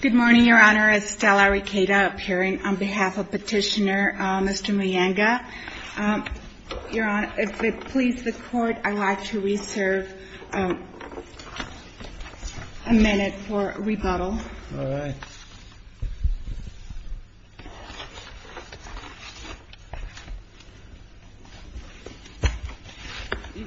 Good morning, Your Honor. Estella Riqueda appearing on behalf of Petitioner Mr. Muyenga. Your Honor, if it pleases the Court, I'd like to reserve a minute for rebuttal. All right.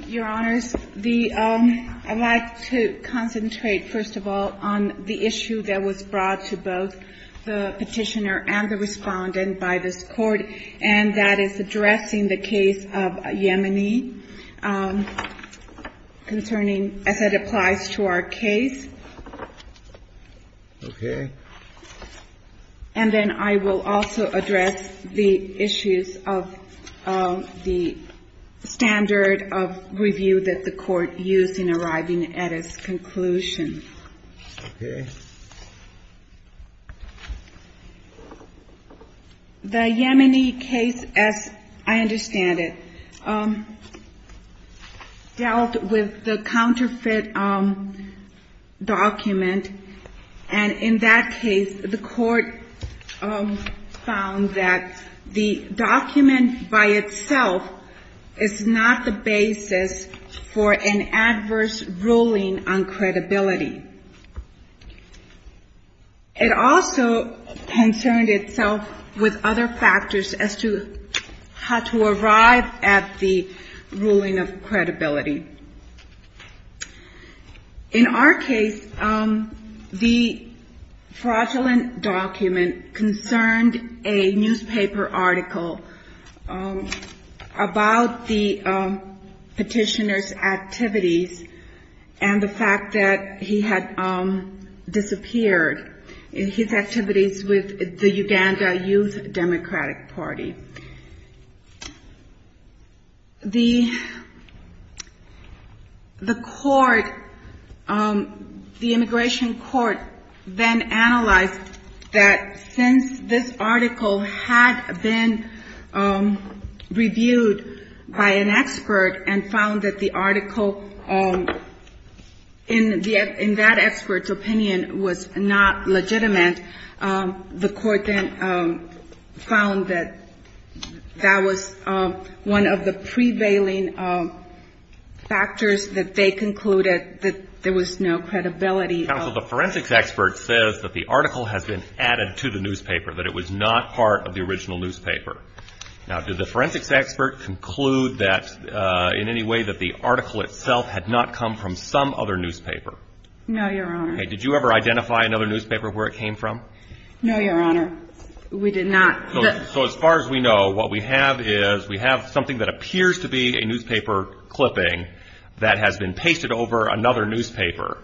Your Honors, the – I'd like to concentrate, first of all, on the issue that was brought to both the Petitioner and the Respondent by this Court, and that is addressing the case of Yemeni concerning – as it applies to our case. Okay. And then I will also address the issues of the standard of review that the Court used in arriving at its conclusion. Okay. The Yemeni case, as I understand it, dealt with the counterfeit document, and in that case, the Court found that the document by itself is not the basis for an adverse ruling on credibility. It also concerned itself with other factors as to how to arrive at the ruling of credibility. In our case, the fraudulent document concerned a newspaper article about the Petitioner's activities and the fact that he had disappeared in his activities with the Uganda Youth Democratic Party. The court – the immigration court then analyzed that since this article had been reviewed by an expert and found that the article in that expert's opinion was not legitimate, the court then found that that was one of the prevailing factors that they concluded that there was no credibility of – Counsel, the forensics expert says that the article has been added to the newspaper, that it was not part of the original newspaper. Now, did the forensics expert conclude that – in any way that the article itself had not come from some other newspaper? No, Your Honor. Okay. Did you ever identify another newspaper where it came from? No, Your Honor. We did not. So as far as we know, what we have is we have something that appears to be a newspaper clipping that has been pasted over another newspaper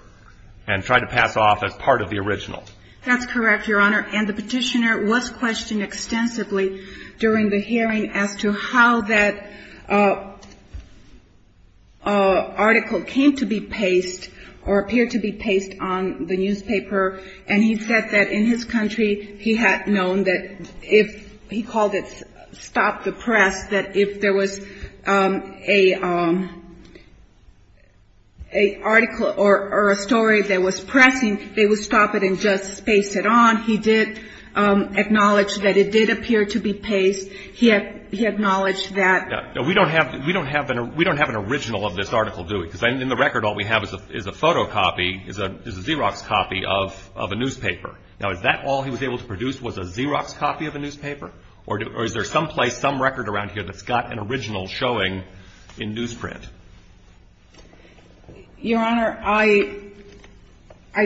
and tried to pass off as part of the original. That's correct, Your Honor. And the Petitioner was questioned extensively during the hearing as to how that article came to be paced or appeared to be paced on the newspaper. And he said that in his country, he had known that if – he called it stop the press, that if there was a article or a story that was pressing, they would stop it and just pace it on. He did acknowledge that it did appear to be paced. He acknowledged that – Now, is that all he was able to produce was a Xerox copy of a newspaper? Or is there someplace, some record around here that's got an original showing in newsprint? Your Honor, I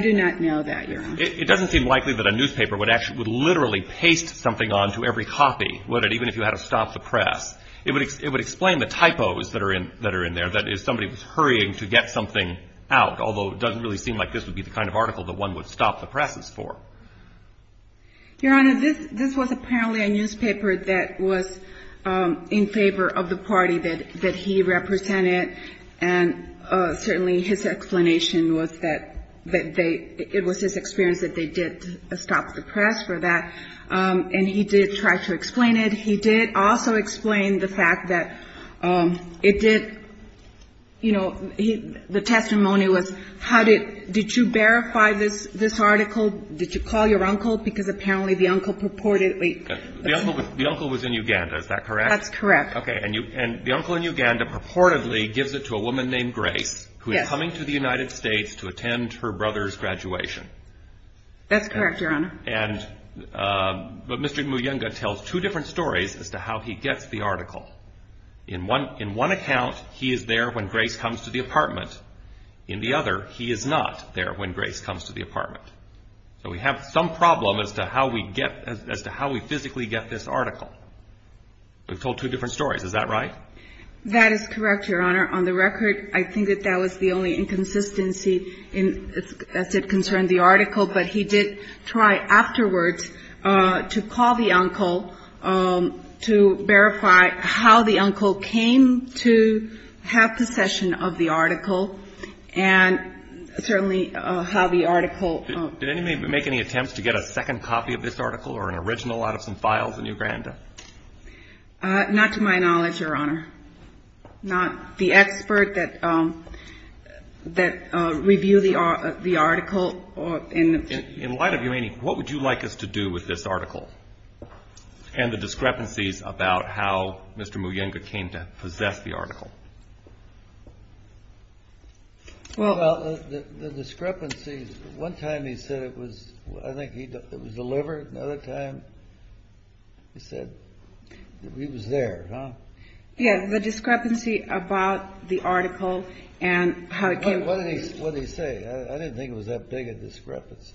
do not know that, Your Honor. It doesn't seem likely that a newspaper would literally paste something onto every copy, would it, even if you had a stop the press? It would explain the typos that are in there, that if somebody was hurrying to get something out, although it doesn't really seem like this would be the kind of article that one would stop the presses for. Your Honor, this was apparently a newspaper that was in favor of the party that he represented. And certainly his explanation was that they – it was his experience that they did stop the press for that. And he did try to explain it. He did also explain the fact that it did – you know, the testimony was how did – did you verify this article? Did you call your uncle? Because apparently the uncle purportedly – The uncle was in Uganda, is that correct? That's correct. Okay. And the uncle in Uganda purportedly gives it to a woman named Grace who is coming to the United States to attend her brother's graduation. That's correct, Your Honor. And – but Mr. Muyunga tells two different stories as to how he gets the article. In one account, he is there when Grace comes to the apartment. In the other, he is not there when Grace comes to the apartment. So we have some problem as to how we get – as to how we physically get this article. We've told two different stories, is that right? That is correct, Your Honor. On the record, I think that that was the only inconsistency as it concerned the article. But he did try afterwards to call the uncle to verify how the uncle came to have possession of the article and certainly how the article – Did anybody make any attempts to get a second copy of this article or an original out of some files in Uganda? Not to my knowledge, Your Honor. Not the expert that reviewed the article. In light of your meaning, what would you like us to do with this article and the discrepancies about how Mr. Muyunga came to possess the article? Well, the discrepancies – one time he said it was – I think it was delivered. Another time he said he was there, huh? Yes. The discrepancy about the article and how it came to be. What did he say? I didn't think it was that big a discrepancy.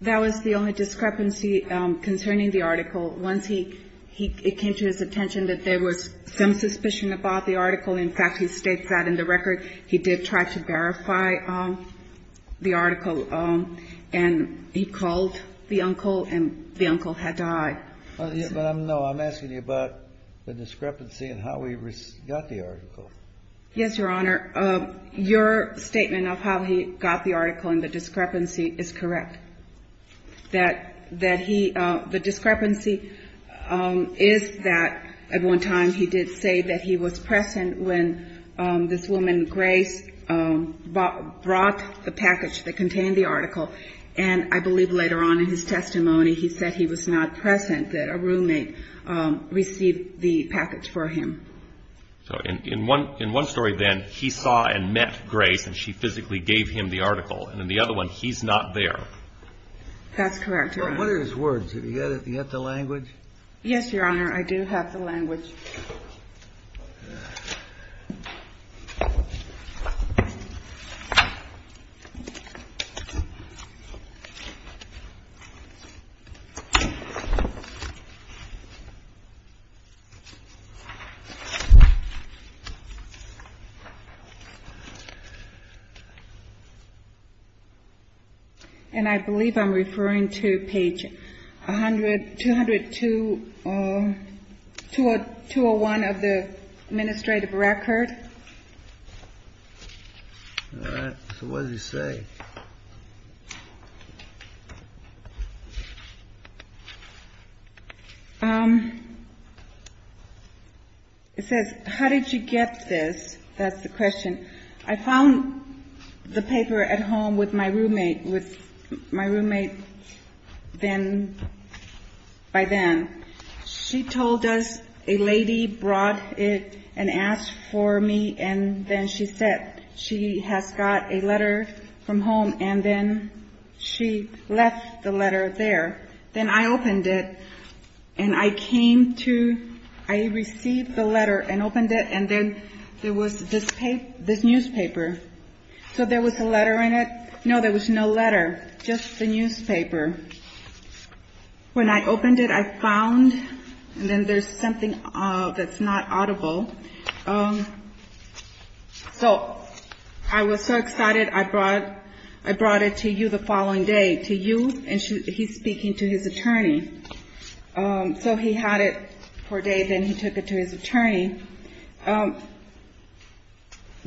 That was the only discrepancy concerning the article. Once he – it came to his attention that there was some suspicion about the article. In fact, he states that in the record. He did try to verify the article, and he called the uncle, and the uncle had to hide. But I'm – no, I'm asking you about the discrepancy and how he got the article. Yes, Your Honor. Your statement of how he got the article and the discrepancy is correct. That he – the discrepancy is that at one time he did say that he was present when this woman, Grace, brought the package that contained the article. And I believe later on in his testimony he said he was not present, that a roommate received the package for him. So in one story then, he saw and met Grace, and she physically gave him the article. And in the other one, he's not there. That's correct, Your Honor. What are his words? Do you have the language? Yes, Your Honor, I do have the language. And I believe I'm referring to page 100 – 202 – 201 of the administrative record. All right. So what does he say? It says, how did you get this? That's the question. I found the paper at home with my roommate – with my roommate then – by then. She told us a lady brought it and asked for me, and then she said she has got a letter from home. And then she left the letter there. Then I opened it, and I came to – I received the letter and opened it, and then there was this newspaper. So there was a letter in it? No, there was no letter, just the newspaper. When I opened it, I found – and then there's something that's not audible. So I was so excited, I brought it to you the following day to you, and he's speaking to his attorney. So he had it for a day, then he took it to his attorney.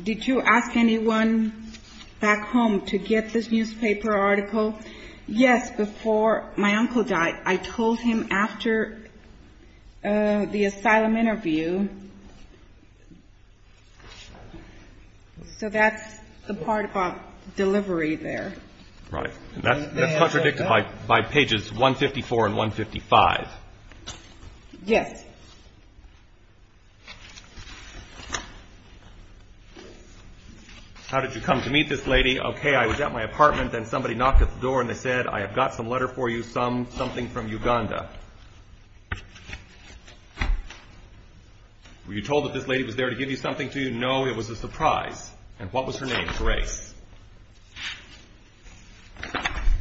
Did you ask anyone back home to get this newspaper article? Yes, before my uncle died. I told him after the asylum interview. So that's the part about delivery there. Right. That's contradicted by pages 154 and 155. Yes. How did you come to meet this lady? Okay, I was at my apartment, then somebody knocked at the door, and they said, I have got some letter for you, something from Uganda. Were you told that this lady was there to give you something? No, it was a surprise. And what was her name? Grace.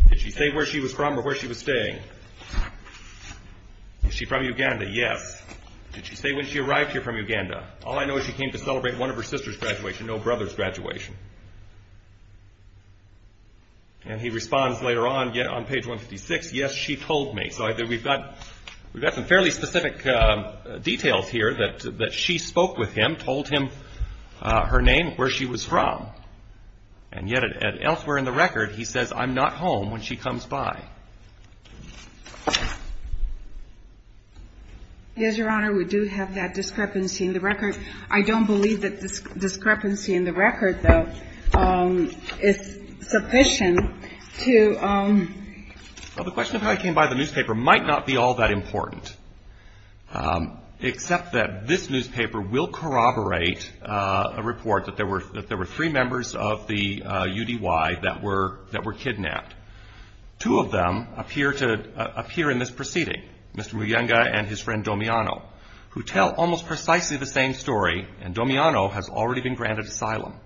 Did she say where she was from or where she was staying? Was she from Uganda? Yes. Did she say when she arrived here from Uganda? All I know is she came to celebrate one of her sister's graduation, no brother's graduation. And he responds later on on page 156, yes, she told me. So we've got some fairly specific details here that she spoke with him, told him her name, where she was from. And yet elsewhere in the record he says, I'm not home when she comes by. Yes, Your Honor, we do have that discrepancy. The record, I don't believe that discrepancy in the record, though, is sufficient to. Well, the question of how he came by the newspaper might not be all that important, except that this newspaper will corroborate a report that there were three members of the UDY that were kidnapped. Two of them appear in this proceeding, Mr. Muyunga and his friend Domiano, who tell almost precisely the same story, and Domiano has already been granted asylum.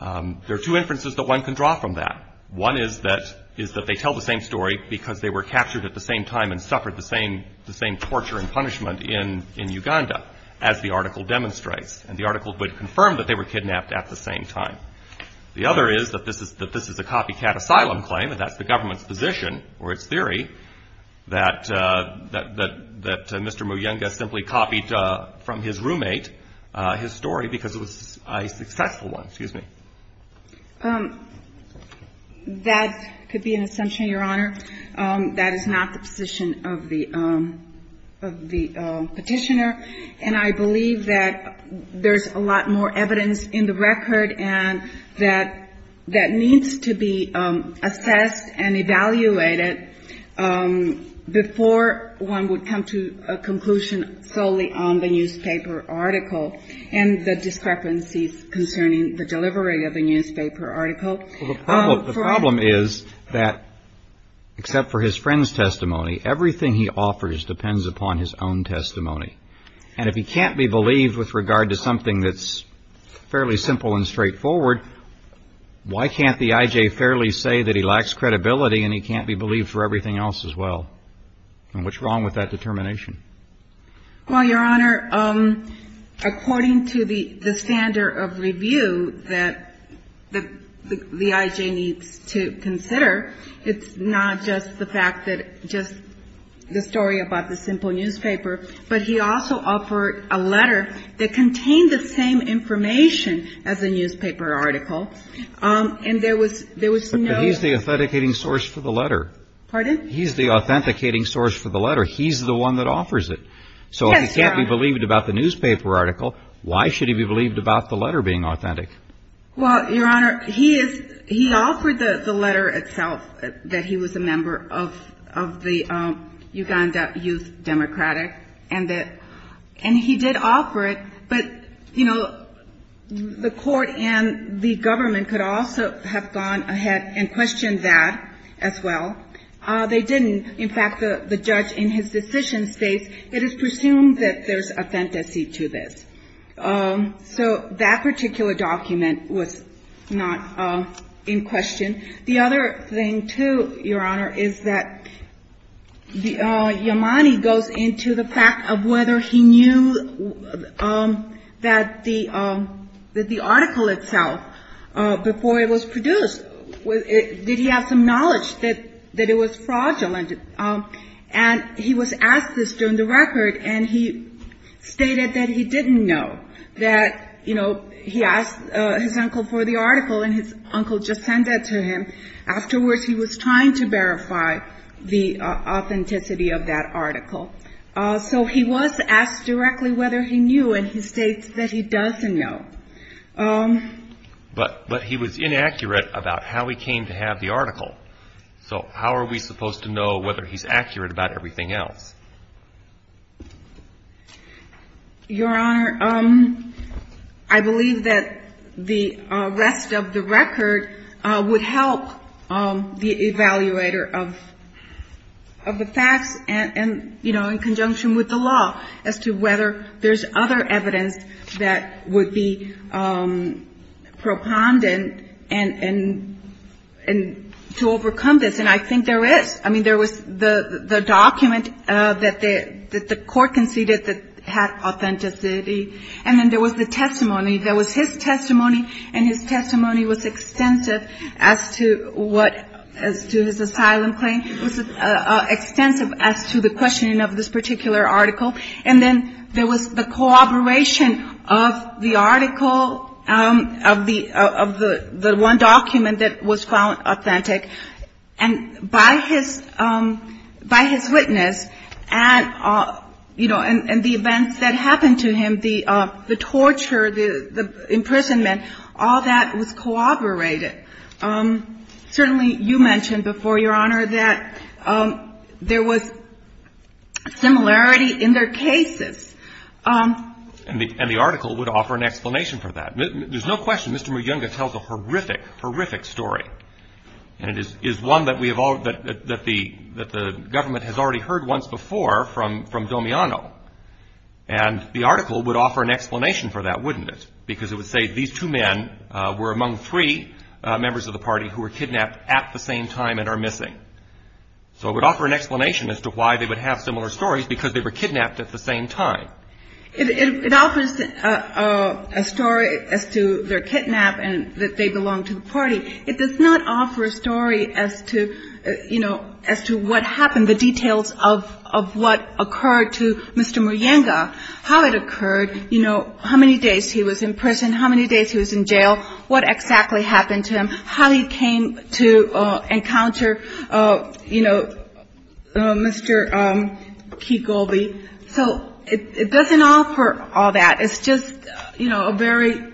There are two inferences that one can draw from that. One is that they tell the same story because they were captured at the same time and suffered the same torture and punishment in Uganda, as the article demonstrates. And the article would confirm that they were kidnapped at the same time. The other is that this is a copycat asylum claim, and that's the government's position or its theory, that Mr. Muyunga simply copied from his roommate his story because it was a successful one. Excuse me. That could be an assumption, Your Honor. That is not the position of the petitioner. And I believe that there's a lot more evidence in the record that needs to be assessed and evaluated before one would come to a conclusion solely on the newspaper article and the discrepancies concerning the delivery of the newspaper article. The problem is that, except for his friend's testimony, everything he offers depends upon his own testimony. And if he can't be believed with regard to something that's fairly simple and straightforward, why can't the I.J. fairly say that he lacks credibility and he can't be believed for everything else as well? And what's wrong with that determination? Well, Your Honor, according to the standard of review that the I.J. needs to consider, it's not just the fact that just the story about the simple newspaper, but he also offered a letter that contained the same information as a newspaper article. And there was no ---- But he's the authenticating source for the letter. Pardon? He's the authenticating source for the letter. He's the one that offers it. Yes, Your Honor. So if he can't be believed about the newspaper article, why should he be believed about the letter being authentic? Well, Your Honor, he is ---- he offered the letter itself, that he was a member of the Uganda Youth Democratic, and that ---- and he did offer it. But, you know, the court and the government could also have gone ahead and questioned that as well. They didn't. In fact, the judge in his decision states, it is presumed that there's a fantasy to this. So that particular document was not in question. The other thing, too, Your Honor, is that Yamani goes into the fact of whether he knew that the article itself, before it was produced, did he have some knowledge that it was fraudulent. And he was asked this during the record, and he stated that he didn't know. That, you know, he asked his uncle for the article, and his uncle just sent that to him. Afterwards, he was trying to verify the authenticity of that article. So he was asked directly whether he knew, and he states that he doesn't know. But he was inaccurate about how he came to have the article. So how are we supposed to know whether he's accurate about everything else? Your Honor, I believe that the rest of the record would help the evaluator of the facts and, you know, And I think there is. I mean, there was the document that the court conceded that had authenticity. And then there was the testimony. There was his testimony, and his testimony was extensive as to what, as to his asylum claim. It was extensive as to the questioning of this particular article. And then there was the corroboration of the article, of the one document that was found authentic. And by his witness and, you know, and the events that happened to him, the torture, the imprisonment, all that was corroborated. Certainly you mentioned before, Your Honor, that there was similarity in their cases. And the article would offer an explanation for that. There's no question. Mr. Muyunga tells a horrific, horrific story. And it is one that we have all, that the government has already heard once before from Domiano. And the article would offer an explanation for that, wouldn't it? Because it would say these two men were among three members of the party who were kidnapped at the same time and are missing. So it would offer an explanation as to why they would have similar stories, because they were kidnapped at the same time. It offers a story as to their kidnap and that they belong to the party. It does not offer a story as to, you know, as to what happened, the details of what occurred to Mr. Muyunga, how it occurred, you know, how many days he was in prison, how many days he was in jail, what exactly happened to him, how he came to encounter, you know, Mr. Kigolbe. So it doesn't offer all that. It's just, you know, a very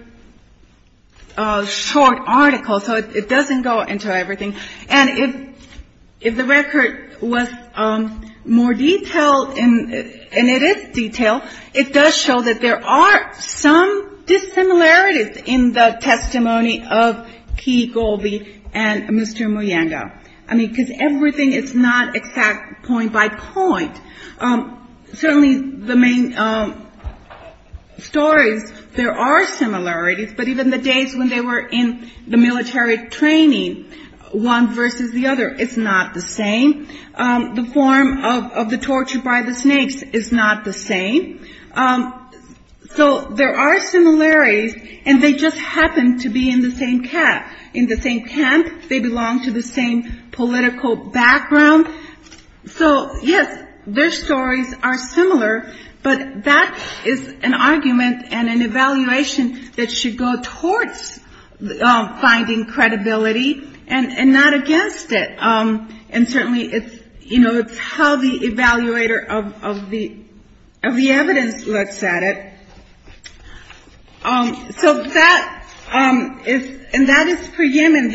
short article. So it doesn't go into everything. And if the record was more detailed, and it is detailed, it does show that there are some dissimilarities in the testimony of Kigolbe and Mr. Muyunga. I mean, because everything is not exact point by point. Certainly the main stories, there are similarities. But even the days when they were in the military training, one versus the other, it's not the same. The form of the torture by the snakes is not the same. So there are similarities, and they just happen to be in the same camp. They belong to the same political background. So, yes, their stories are similar. But that is an argument and an evaluation that should go towards finding credibility and not against it. And certainly it's, you know, it's how the evaluator of the evidence looks at it. So that is, and that is for Yemen.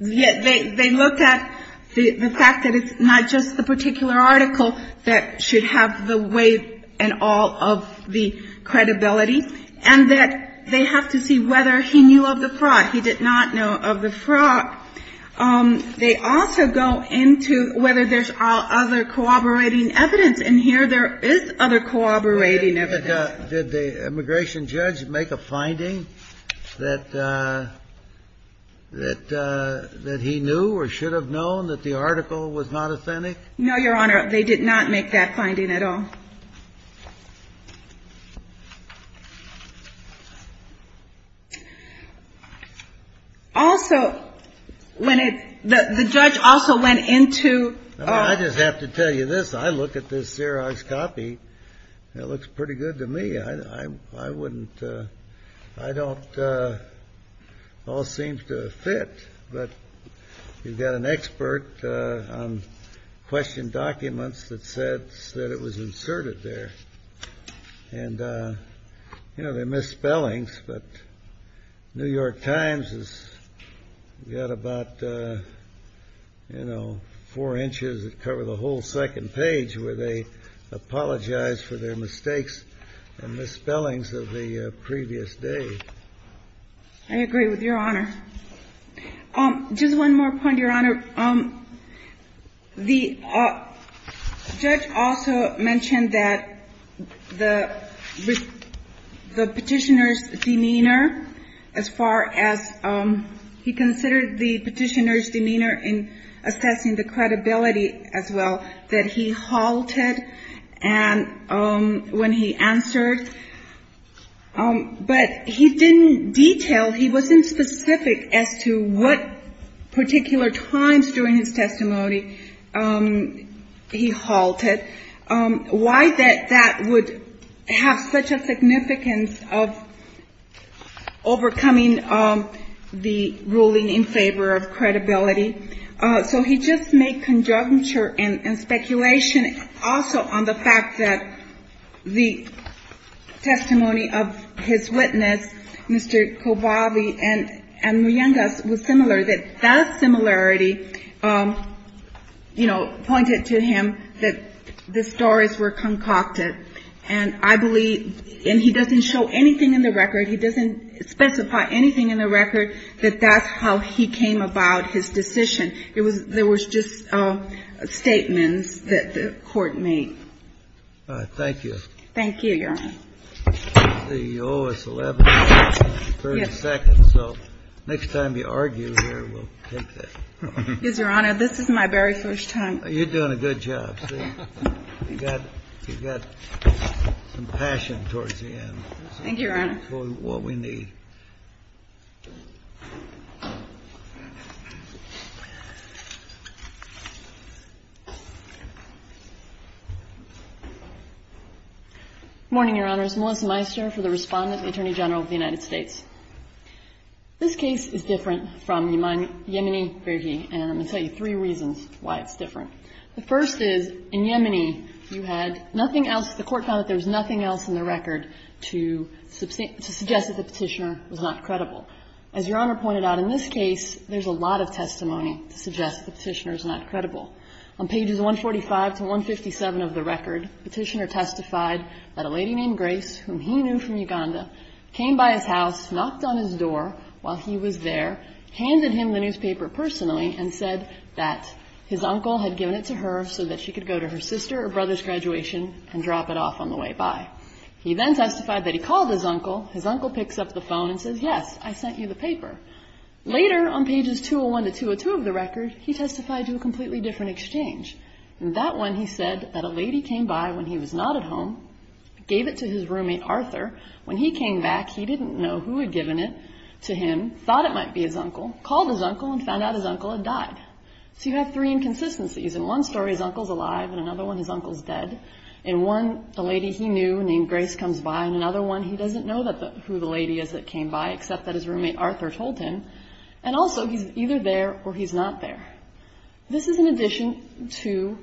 They look at the fact that it's not just the particular article that should have the weight and all of the credibility, and that they have to see whether he knew of the fraud. He did not know of the fraud. They also go into whether there's other corroborating evidence. And here there is other corroborating evidence. Did the immigration judge make a finding that he knew or should have known that the article was not authentic? No, Your Honor. They did not make that finding at all. Also, when it, the judge also went into. I just have to tell you this. I look at this Xerox copy. It looks pretty good to me. I wouldn't, I don't, it all seems to fit. But you've got an expert on question documents that said that it was inserted there. And, you know, there are misspellings, but New York Times has got about, you know, four inches that cover the whole second page where they apologize for their mistakes and misspellings of the previous day. I agree with Your Honor. Just one more point, Your Honor. The judge also mentioned that the petitioner's demeanor, as far as he considered the petitioner's demeanor in assessing the credibility as well, that he halted when he answered. But he didn't detail, he wasn't specific as to what particular times during his testimony he halted, why that would have such a significance of overcoming the ruling in favor of credibility. So he just made conjecture and speculation also on the fact that the testimony of his witness, Mr. Kobabi and Muyengas, was similar, that that similarity, you know, pointed to him that the stories were concocted. And I believe, and he doesn't show anything in the record, he doesn't specify anything in the record, that that's how he came about his decision. There was just statements that the Court made. All right. Thank you. Thank you, Your Honor. This is the O.S. 1132nd. So next time you argue here, we'll take that. Yes, Your Honor. This is my very first time. You've got some passion towards the end. Thank you, Your Honor. Thank you for what we need. Morning, Your Honors. Melissa Meister for the Respondent and Attorney General of the United States. This case is different from Yemeni verhi, and I'm going to tell you three reasons why it's different. The first is, in Yemeni, you had nothing else. The Court found that there was nothing else in the record to suggest that the Petitioner was not credible. As Your Honor pointed out, in this case, there's a lot of testimony to suggest the Petitioner is not credible. On pages 145 to 157 of the record, Petitioner testified that a lady named Grace, whom he knew from Uganda, came by his house, knocked on his door while he was there, handed him the newspaper personally, and said that his uncle had given it to her so that she could go to her sister or brother's graduation and drop it off on the way by. He then testified that he called his uncle. His uncle picks up the phone and says, yes, I sent you the paper. Later, on pages 201 to 202 of the record, he testified to a completely different exchange. In that one, he said that a lady came by when he was not at home, gave it to his roommate, Arthur. When he came back, he didn't know who had given it to him, thought it might be his uncle, called his uncle and found out his uncle had died. So you have three inconsistencies. In one story, his uncle's alive. In another one, his uncle's dead. In one, the lady he knew named Grace comes by. In another one, he doesn't know who the lady is that came by, except that his roommate, Arthur, told him. And also, he's either there or he's not there. This is in addition to,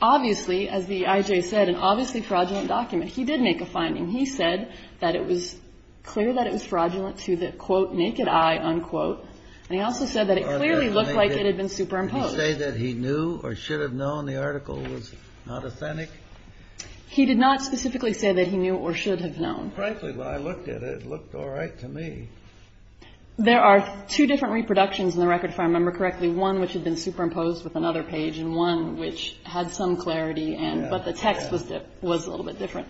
obviously, as the IJ said, an obviously fraudulent document. He did make a finding. He said that it was clear that it was fraudulent to the, quote, naked eye, unquote. And he also said that it clearly looked like it had been superimposed. Did he say that he knew or should have known the article was not authentic? He did not specifically say that he knew or should have known. Frankly, when I looked at it, it looked all right to me. There are two different reproductions in the record, if I remember correctly, one which had been superimposed with another page and one which had some clarity, but the text was a little bit different.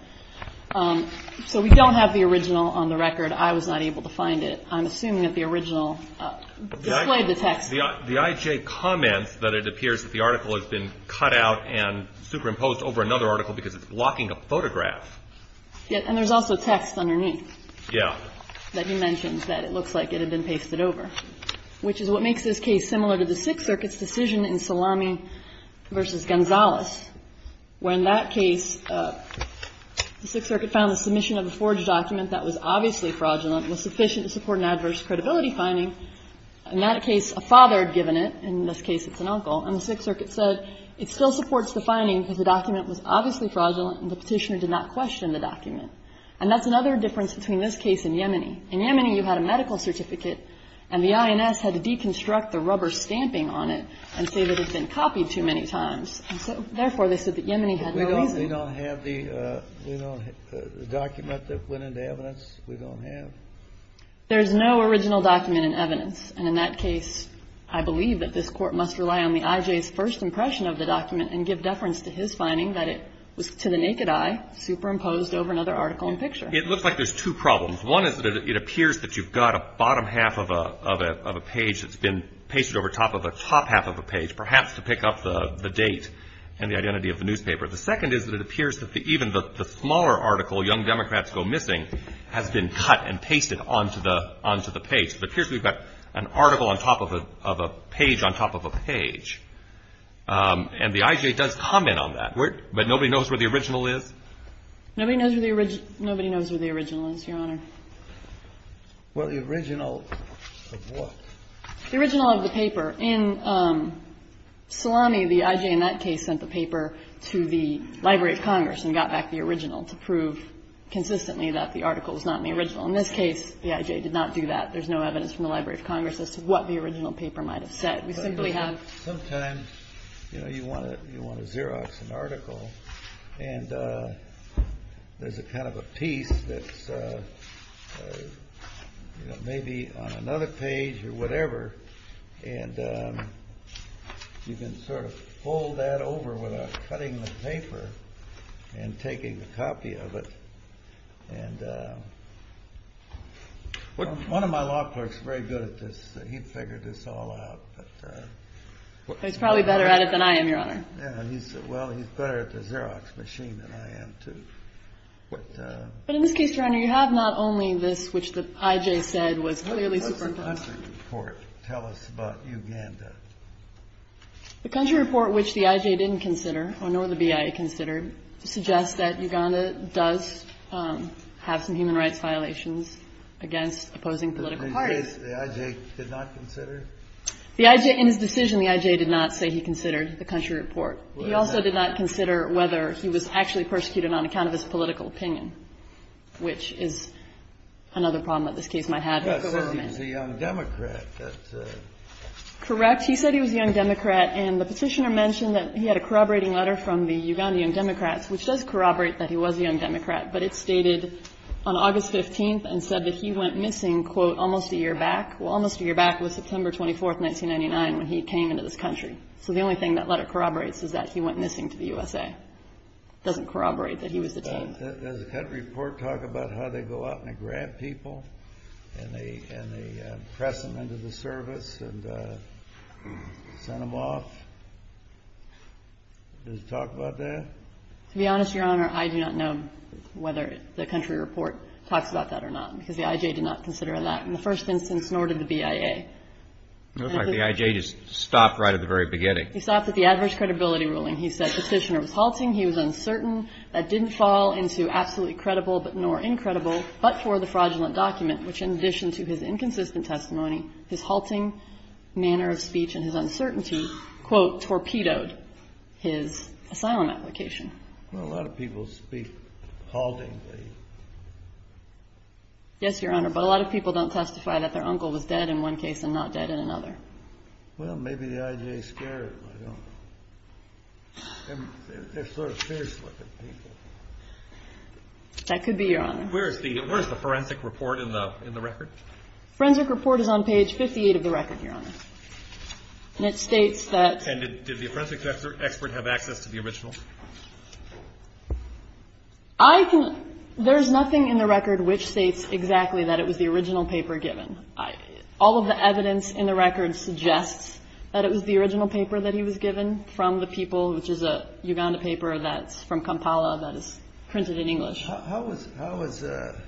So we don't have the original on the record. I was not able to find it. I'm assuming that the original displayed the text. The IJ comments that it appears that the article has been cut out and superimposed over another article because it's blocking a photograph. And there's also text underneath. Yeah. That he mentions that it looks like it had been pasted over, which is what makes this case similar to the Sixth Circuit's decision in Salami v. Gonzales, where in that case, the Sixth Circuit found the submission of the forged document that was obviously fraudulent was sufficient to support an adverse credibility finding. In that case, a father had given it. In this case, it's an uncle. And the Sixth Circuit said it still supports the finding because the document was obviously fraudulent and the petitioner did not question the document. And that's another difference between this case and Yemeni. In Yemeni, you had a medical certificate, and the INS had to deconstruct the rubber stamping on it and say that it had been copied too many times. And so, therefore, they said that Yemeni had no reason. We don't have the document that went into evidence. We don't have. There's no original document in evidence. And in that case, I believe that this Court must rely on the IJ's first impression of the document and give deference to his finding that it was to the naked eye superimposed over another article and picture. It looks like there's two problems. One is that it appears that you've got a bottom half of a page that's been pasted over top of a top half of a page, perhaps to pick up the date and the identity of the newspaper. The second is that it appears that even the smaller article, Young Democrats Go Missing, has been cut and pasted onto the page. It appears we've got an article on top of a page on top of a page. And the IJ does comment on that. But nobody knows where the original is? Nobody knows where the original is, Your Honor. Well, the original of what? The original of the paper. In Salami, the IJ in that case sent the paper to the Library of Congress and got back the original to prove consistently that the article is not the original. In this case, the IJ did not do that. There's no evidence from the Library of Congress as to what the original paper might have said. We simply have Sometimes, you know, you want to Xerox an article, and there's a kind of a piece that's maybe on another page or whatever, and you can sort of fold that over without cutting the paper and taking a copy of it. And one of my law clerks is very good at this. He figured this all out. He's probably better at it than I am, Your Honor. Well, he's better at the Xerox machine than I am, too. But in this case, Your Honor, you have not only this, which the IJ said was clearly superimposed. What does the country report tell us about Uganda? The country report, which the IJ didn't consider, nor the BIA considered, suggests that Uganda does have some human rights violations against opposing political parties. In this case, the IJ did not consider? The IJ, in his decision, the IJ did not say he considered the country report. He also did not consider whether he was actually persecuted on account of his political opinion, which is another problem that this case might have. He said he was a young Democrat. Correct. He said he was a young Democrat, and the petitioner mentioned that he had a corroborating letter from the Ugandan young Democrats, which does corroborate that he was a young Democrat, but it stated on August 15th and said that he went missing, quote, almost a year back. Well, almost a year back was September 24th, 1999, when he came into this country. So the only thing that letter corroborates is that he went missing to the USA. It doesn't corroborate that he was detained. Does the country report talk about how they go out and they grab people and they press them into the service and send them off? Does it talk about that? To be honest, Your Honor, I do not know whether the country report talks about that or not, because the IJ did not consider that in the first instance, nor did the BIA. It looks like the IJ just stopped right at the very beginning. He stopped at the adverse credibility ruling. He said the petitioner was halting. He was uncertain. That didn't fall into absolutely credible, but nor incredible, but for the fraudulent document, which in addition to his inconsistent testimony, his halting manner of speech and his uncertainty, quote, torpedoed his asylum application. Well, a lot of people speak haltingly. Yes, Your Honor, but a lot of people don't testify that their uncle was dead in one case and not dead in another. Well, maybe the IJ scared him. They're sort of fierce looking people. That could be, Your Honor. Where is the forensic report in the record? Forensic report is on page 58 of the record, Your Honor. And it states that. And did the forensic expert have access to the original? I think there's nothing in the record which states exactly that it was the original paper given. All of the evidence in the record suggests that it was the original paper that he was given from the people, which is a Uganda paper that's from Kampala that is printed in English. How was the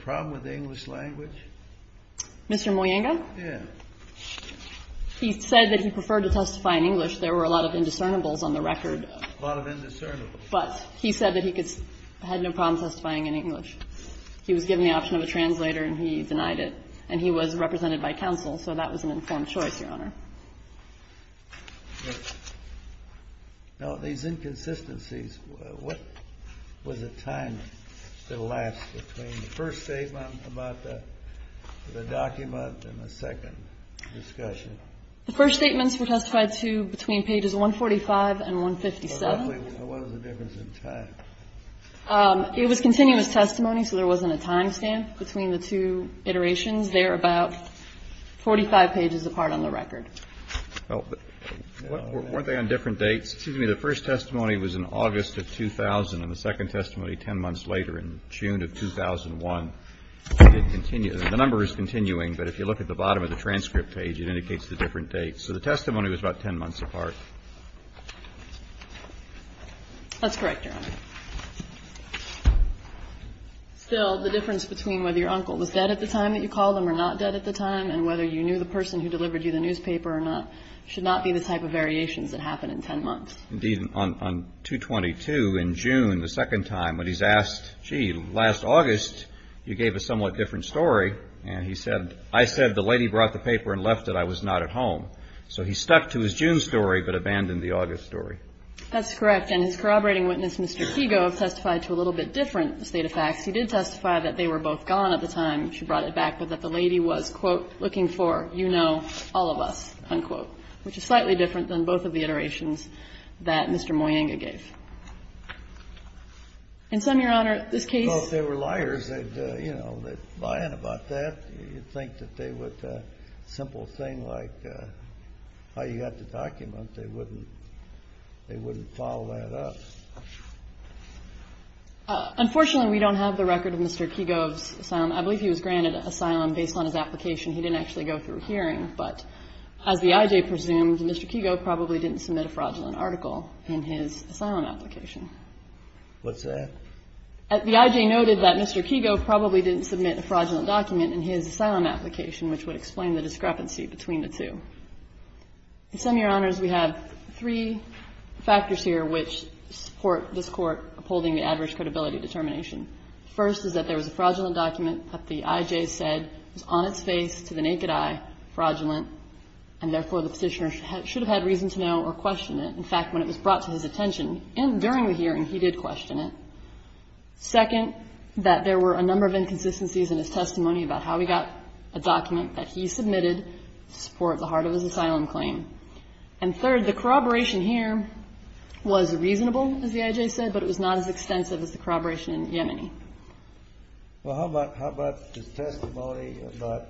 problem with the English language? Mr. Moyenga? Yes. He said that he preferred to testify in English. There were a lot of indiscernible on the record. A lot of indiscernible. But he said that he had no problem testifying in English. He was given the option of a translator and he denied it. And he was represented by counsel. So that was an informed choice, Your Honor. Now, these inconsistencies, what was the time that lasts between the first statement about the document and the second discussion? The first statements were testified to between pages 145 and 157. What was the difference in time? It was continuous testimony, so there wasn't a time stamp between the two iterations. They're about 45 pages apart on the record. Well, weren't they on different dates? Excuse me. The first testimony was in August of 2000 and the second testimony 10 months later in June of 2001. It didn't continue. The number is continuing, but if you look at the bottom of the transcript page, it indicates the different dates. So the testimony was about 10 months apart. That's correct, Your Honor. Still, the difference between whether your uncle was dead at the time that you called him or not dead at the time and whether you knew the person who delivered you the newspaper or not should not be the type of variations that happen in 10 months. Indeed, on 222 in June, the second time, when he's asked, gee, last August you gave a somewhat different story, and he said, I said the lady brought the paper and left it. I was not at home. So he stuck to his June story but abandoned the August story. That's correct. And his corroborating witness, Mr. Kigo, testified to a little bit different state of facts. He did testify that they were both gone at the time she brought it back, but that the lady was, quote, looking for, you know, all of us, unquote, which is slightly different than both of the iterations that Mr. Moyenga gave. In some, Your Honor, this case ---- Well, if they were liars, they'd, you know, they'd lie in about that. You'd think that they would, a simple thing like how you had to document, they wouldn't follow that up. Unfortunately, we don't have the record of Mr. Kigo's asylum. I believe he was granted asylum based on his application. He didn't actually go through hearing. But as the I.J. presumed, Mr. Kigo probably didn't submit a fraudulent article in his asylum application. What's that? The I.J. noted that Mr. Kigo probably didn't submit a fraudulent document in his asylum application, which would explain the discrepancy between the two. In sum, Your Honors, we have three factors here which support this Court upholding the average credibility determination. First is that there was a fraudulent document that the I.J. said was on its face to the naked eye, fraudulent, and therefore the Petitioner should have had reason to know or question it. In fact, when it was brought to his attention during the hearing, he did question it. Second, that there were a number of inconsistencies in his testimony about how he got a document that he submitted to support the heart of his asylum claim. And third, the corroboration here was reasonable, as the I.J. said, but it was not as extensive as the corroboration in Yemeni. Well, how about his testimony about,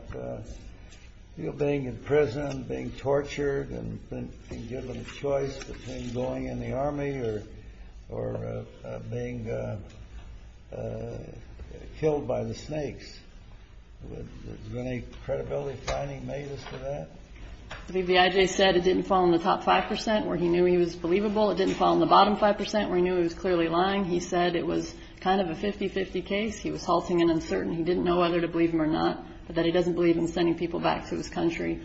you know, being in prison, being tortured and being given a choice between going in the Army or being killed by the snakes? Was there any credibility finding made as to that? The I.J. said it didn't fall in the top 5 percent, where he knew he was believable. It didn't fall in the bottom 5 percent, where he knew he was clearly lying. He said it was kind of a 50-50 case. He was halting and uncertain. He didn't know whether to believe him or not, but that he doesn't believe in sending people back to his country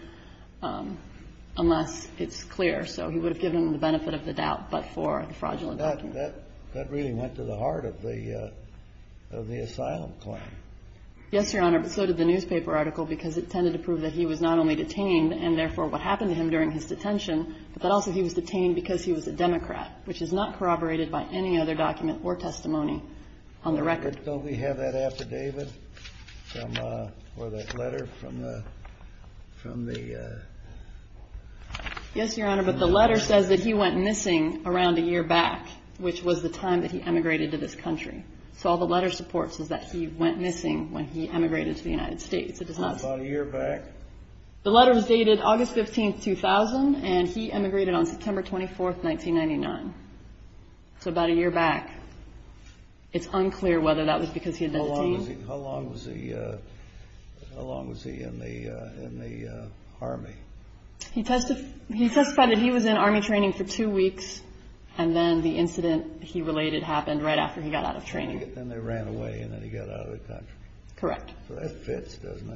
unless it's clear. So he would have given him the benefit of the doubt, but for the fraudulent document. That really went to the heart of the asylum claim. Yes, Your Honor, but so did the newspaper article, because it tended to prove that he was not only detained, and therefore what happened to him during his detention, but that also he was detained because he was a Democrat, which is not corroborated by any other document or testimony on the record. Don't we have that affidavit or that letter from the... Yes, Your Honor, but the letter says that he went missing around a year back, which was the time that he emigrated to this country. So all the letter supports is that he went missing when he emigrated to the United States. It does not... About a year back? The letter was dated August 15, 2000, and he emigrated on September 24, 1999. So about a year back. It's unclear whether that was because he had been detained. How long was he in the Army? He testified that he was in Army training for two weeks, and then the incident he related happened right after he got out of training. Then they ran away, and then he got out of the country. Correct. So that fits, doesn't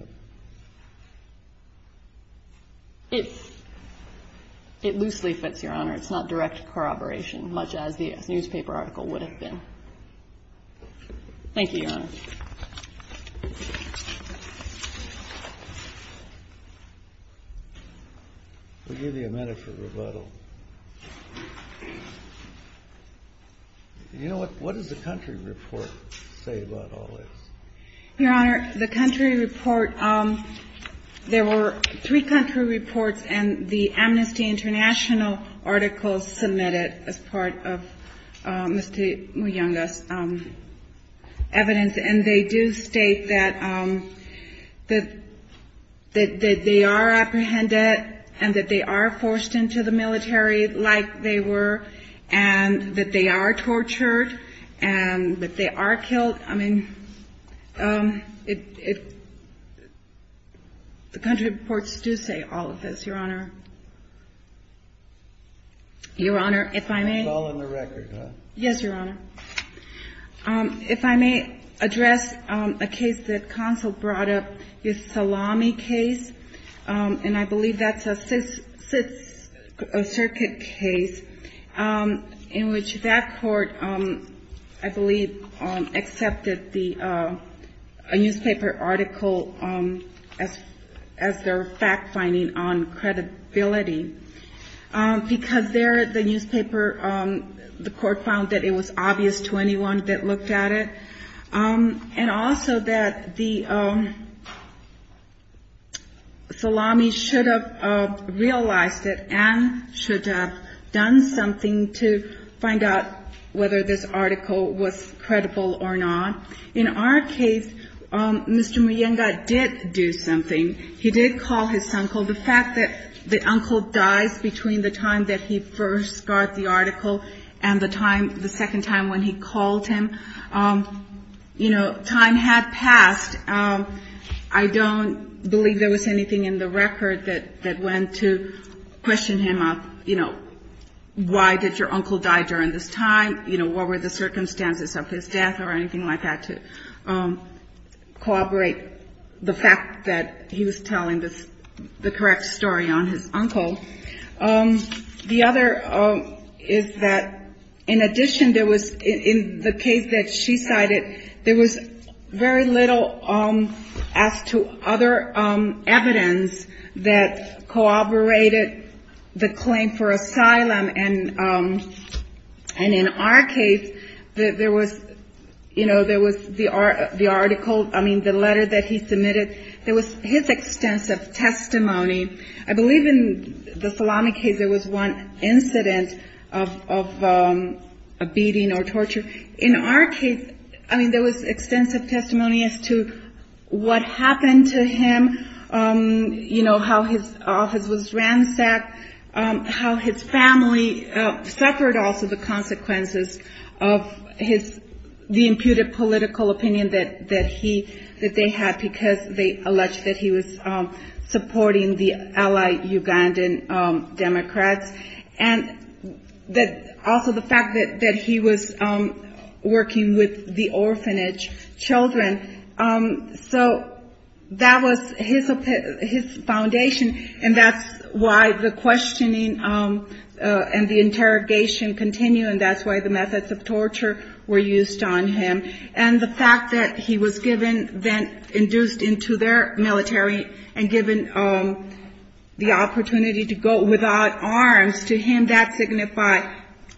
it? It loosely fits, Your Honor. It's not direct corroboration, much as the newspaper article would have been. Thank you, Your Honor. We'll give you a minute for rebuttal. You know what? What does the country report say about all this? Your Honor, the country report, there were three country reports, and the Amnesty International article submitted as part of Mr. Muyonga's evidence, and they do state that they are apprehended and that they are forced into the military like they were, and that they are tortured, and that they are killed. I mean, the country reports do say all of this, Your Honor. Your Honor, if I may. It's all in the record, huh? Yes, Your Honor. If I may address a case that counsel brought up, the Salami case, and I believe that's a Sixth Circuit case, in which that court, I believe, accepted a newspaper article as their fact-finding on credibility, and I believe that that court did, because there, the newspaper, the court found that it was obvious to anyone that looked at it, and also that the Salami should have realized it and should have done something to find out whether this article was credible or not. In our case, Mr. Muyonga did do something. He did call his uncle. The fact that the uncle dies between the time that he first got the article and the time, the second time when he called him, you know, time had passed. I don't believe there was anything in the record that went to question him of, you know, why did your uncle die during this time, you know, what were the circumstances of his death or anything like that, to corroborate the fact that he was telling the correct story on his uncle. The other is that, in addition, there was, in the case that she cited, there was very little as to other evidence that corroborated the truth. In our case, there was, you know, there was the article, I mean, the letter that he submitted. There was his extensive testimony. I believe in the Salami case there was one incident of beating or torture. In our case, I mean, there was extensive testimony as to what happened to him, you know, how his office was handled. There was a lot of evidence of his, the imputed political opinion that he, that they had because they alleged that he was supporting the allied Ugandan Democrats, and that also the fact that he was working with the orphanage children. So that was his foundation, and that's why the methods of torture were used on him. And the fact that he was given, then induced into their military, and given the opportunity to go without arms, to him, that signified,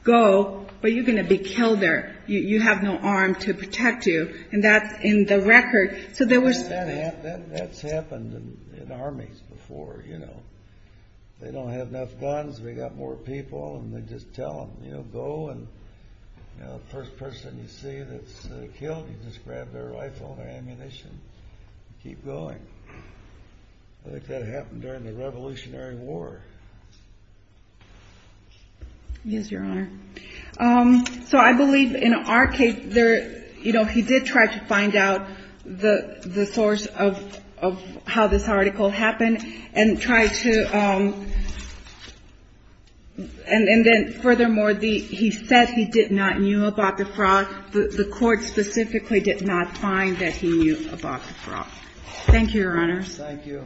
go, but you're going to be killed there. You have no arm to protect you, and that's in the record. So there was... That's happened in armies before, you know. They don't have enough guns. They've got more people, and they just tell them, you know, go, and, you know, that's what happened. You know, the first person you see that's killed, you just grab their rifle, their ammunition, and keep going. I think that happened during the Revolutionary War. Yes, Your Honor. So I believe in our case there, you know, he did try to find out the source of how this article happened, and try to, and then furthermore, he said he did not knew about the fraud. The Court specifically did not find that he knew about the fraud. Thank you, Your Honors. Thank you.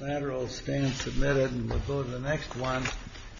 Lateral stand submitted, and we'll go to the next one.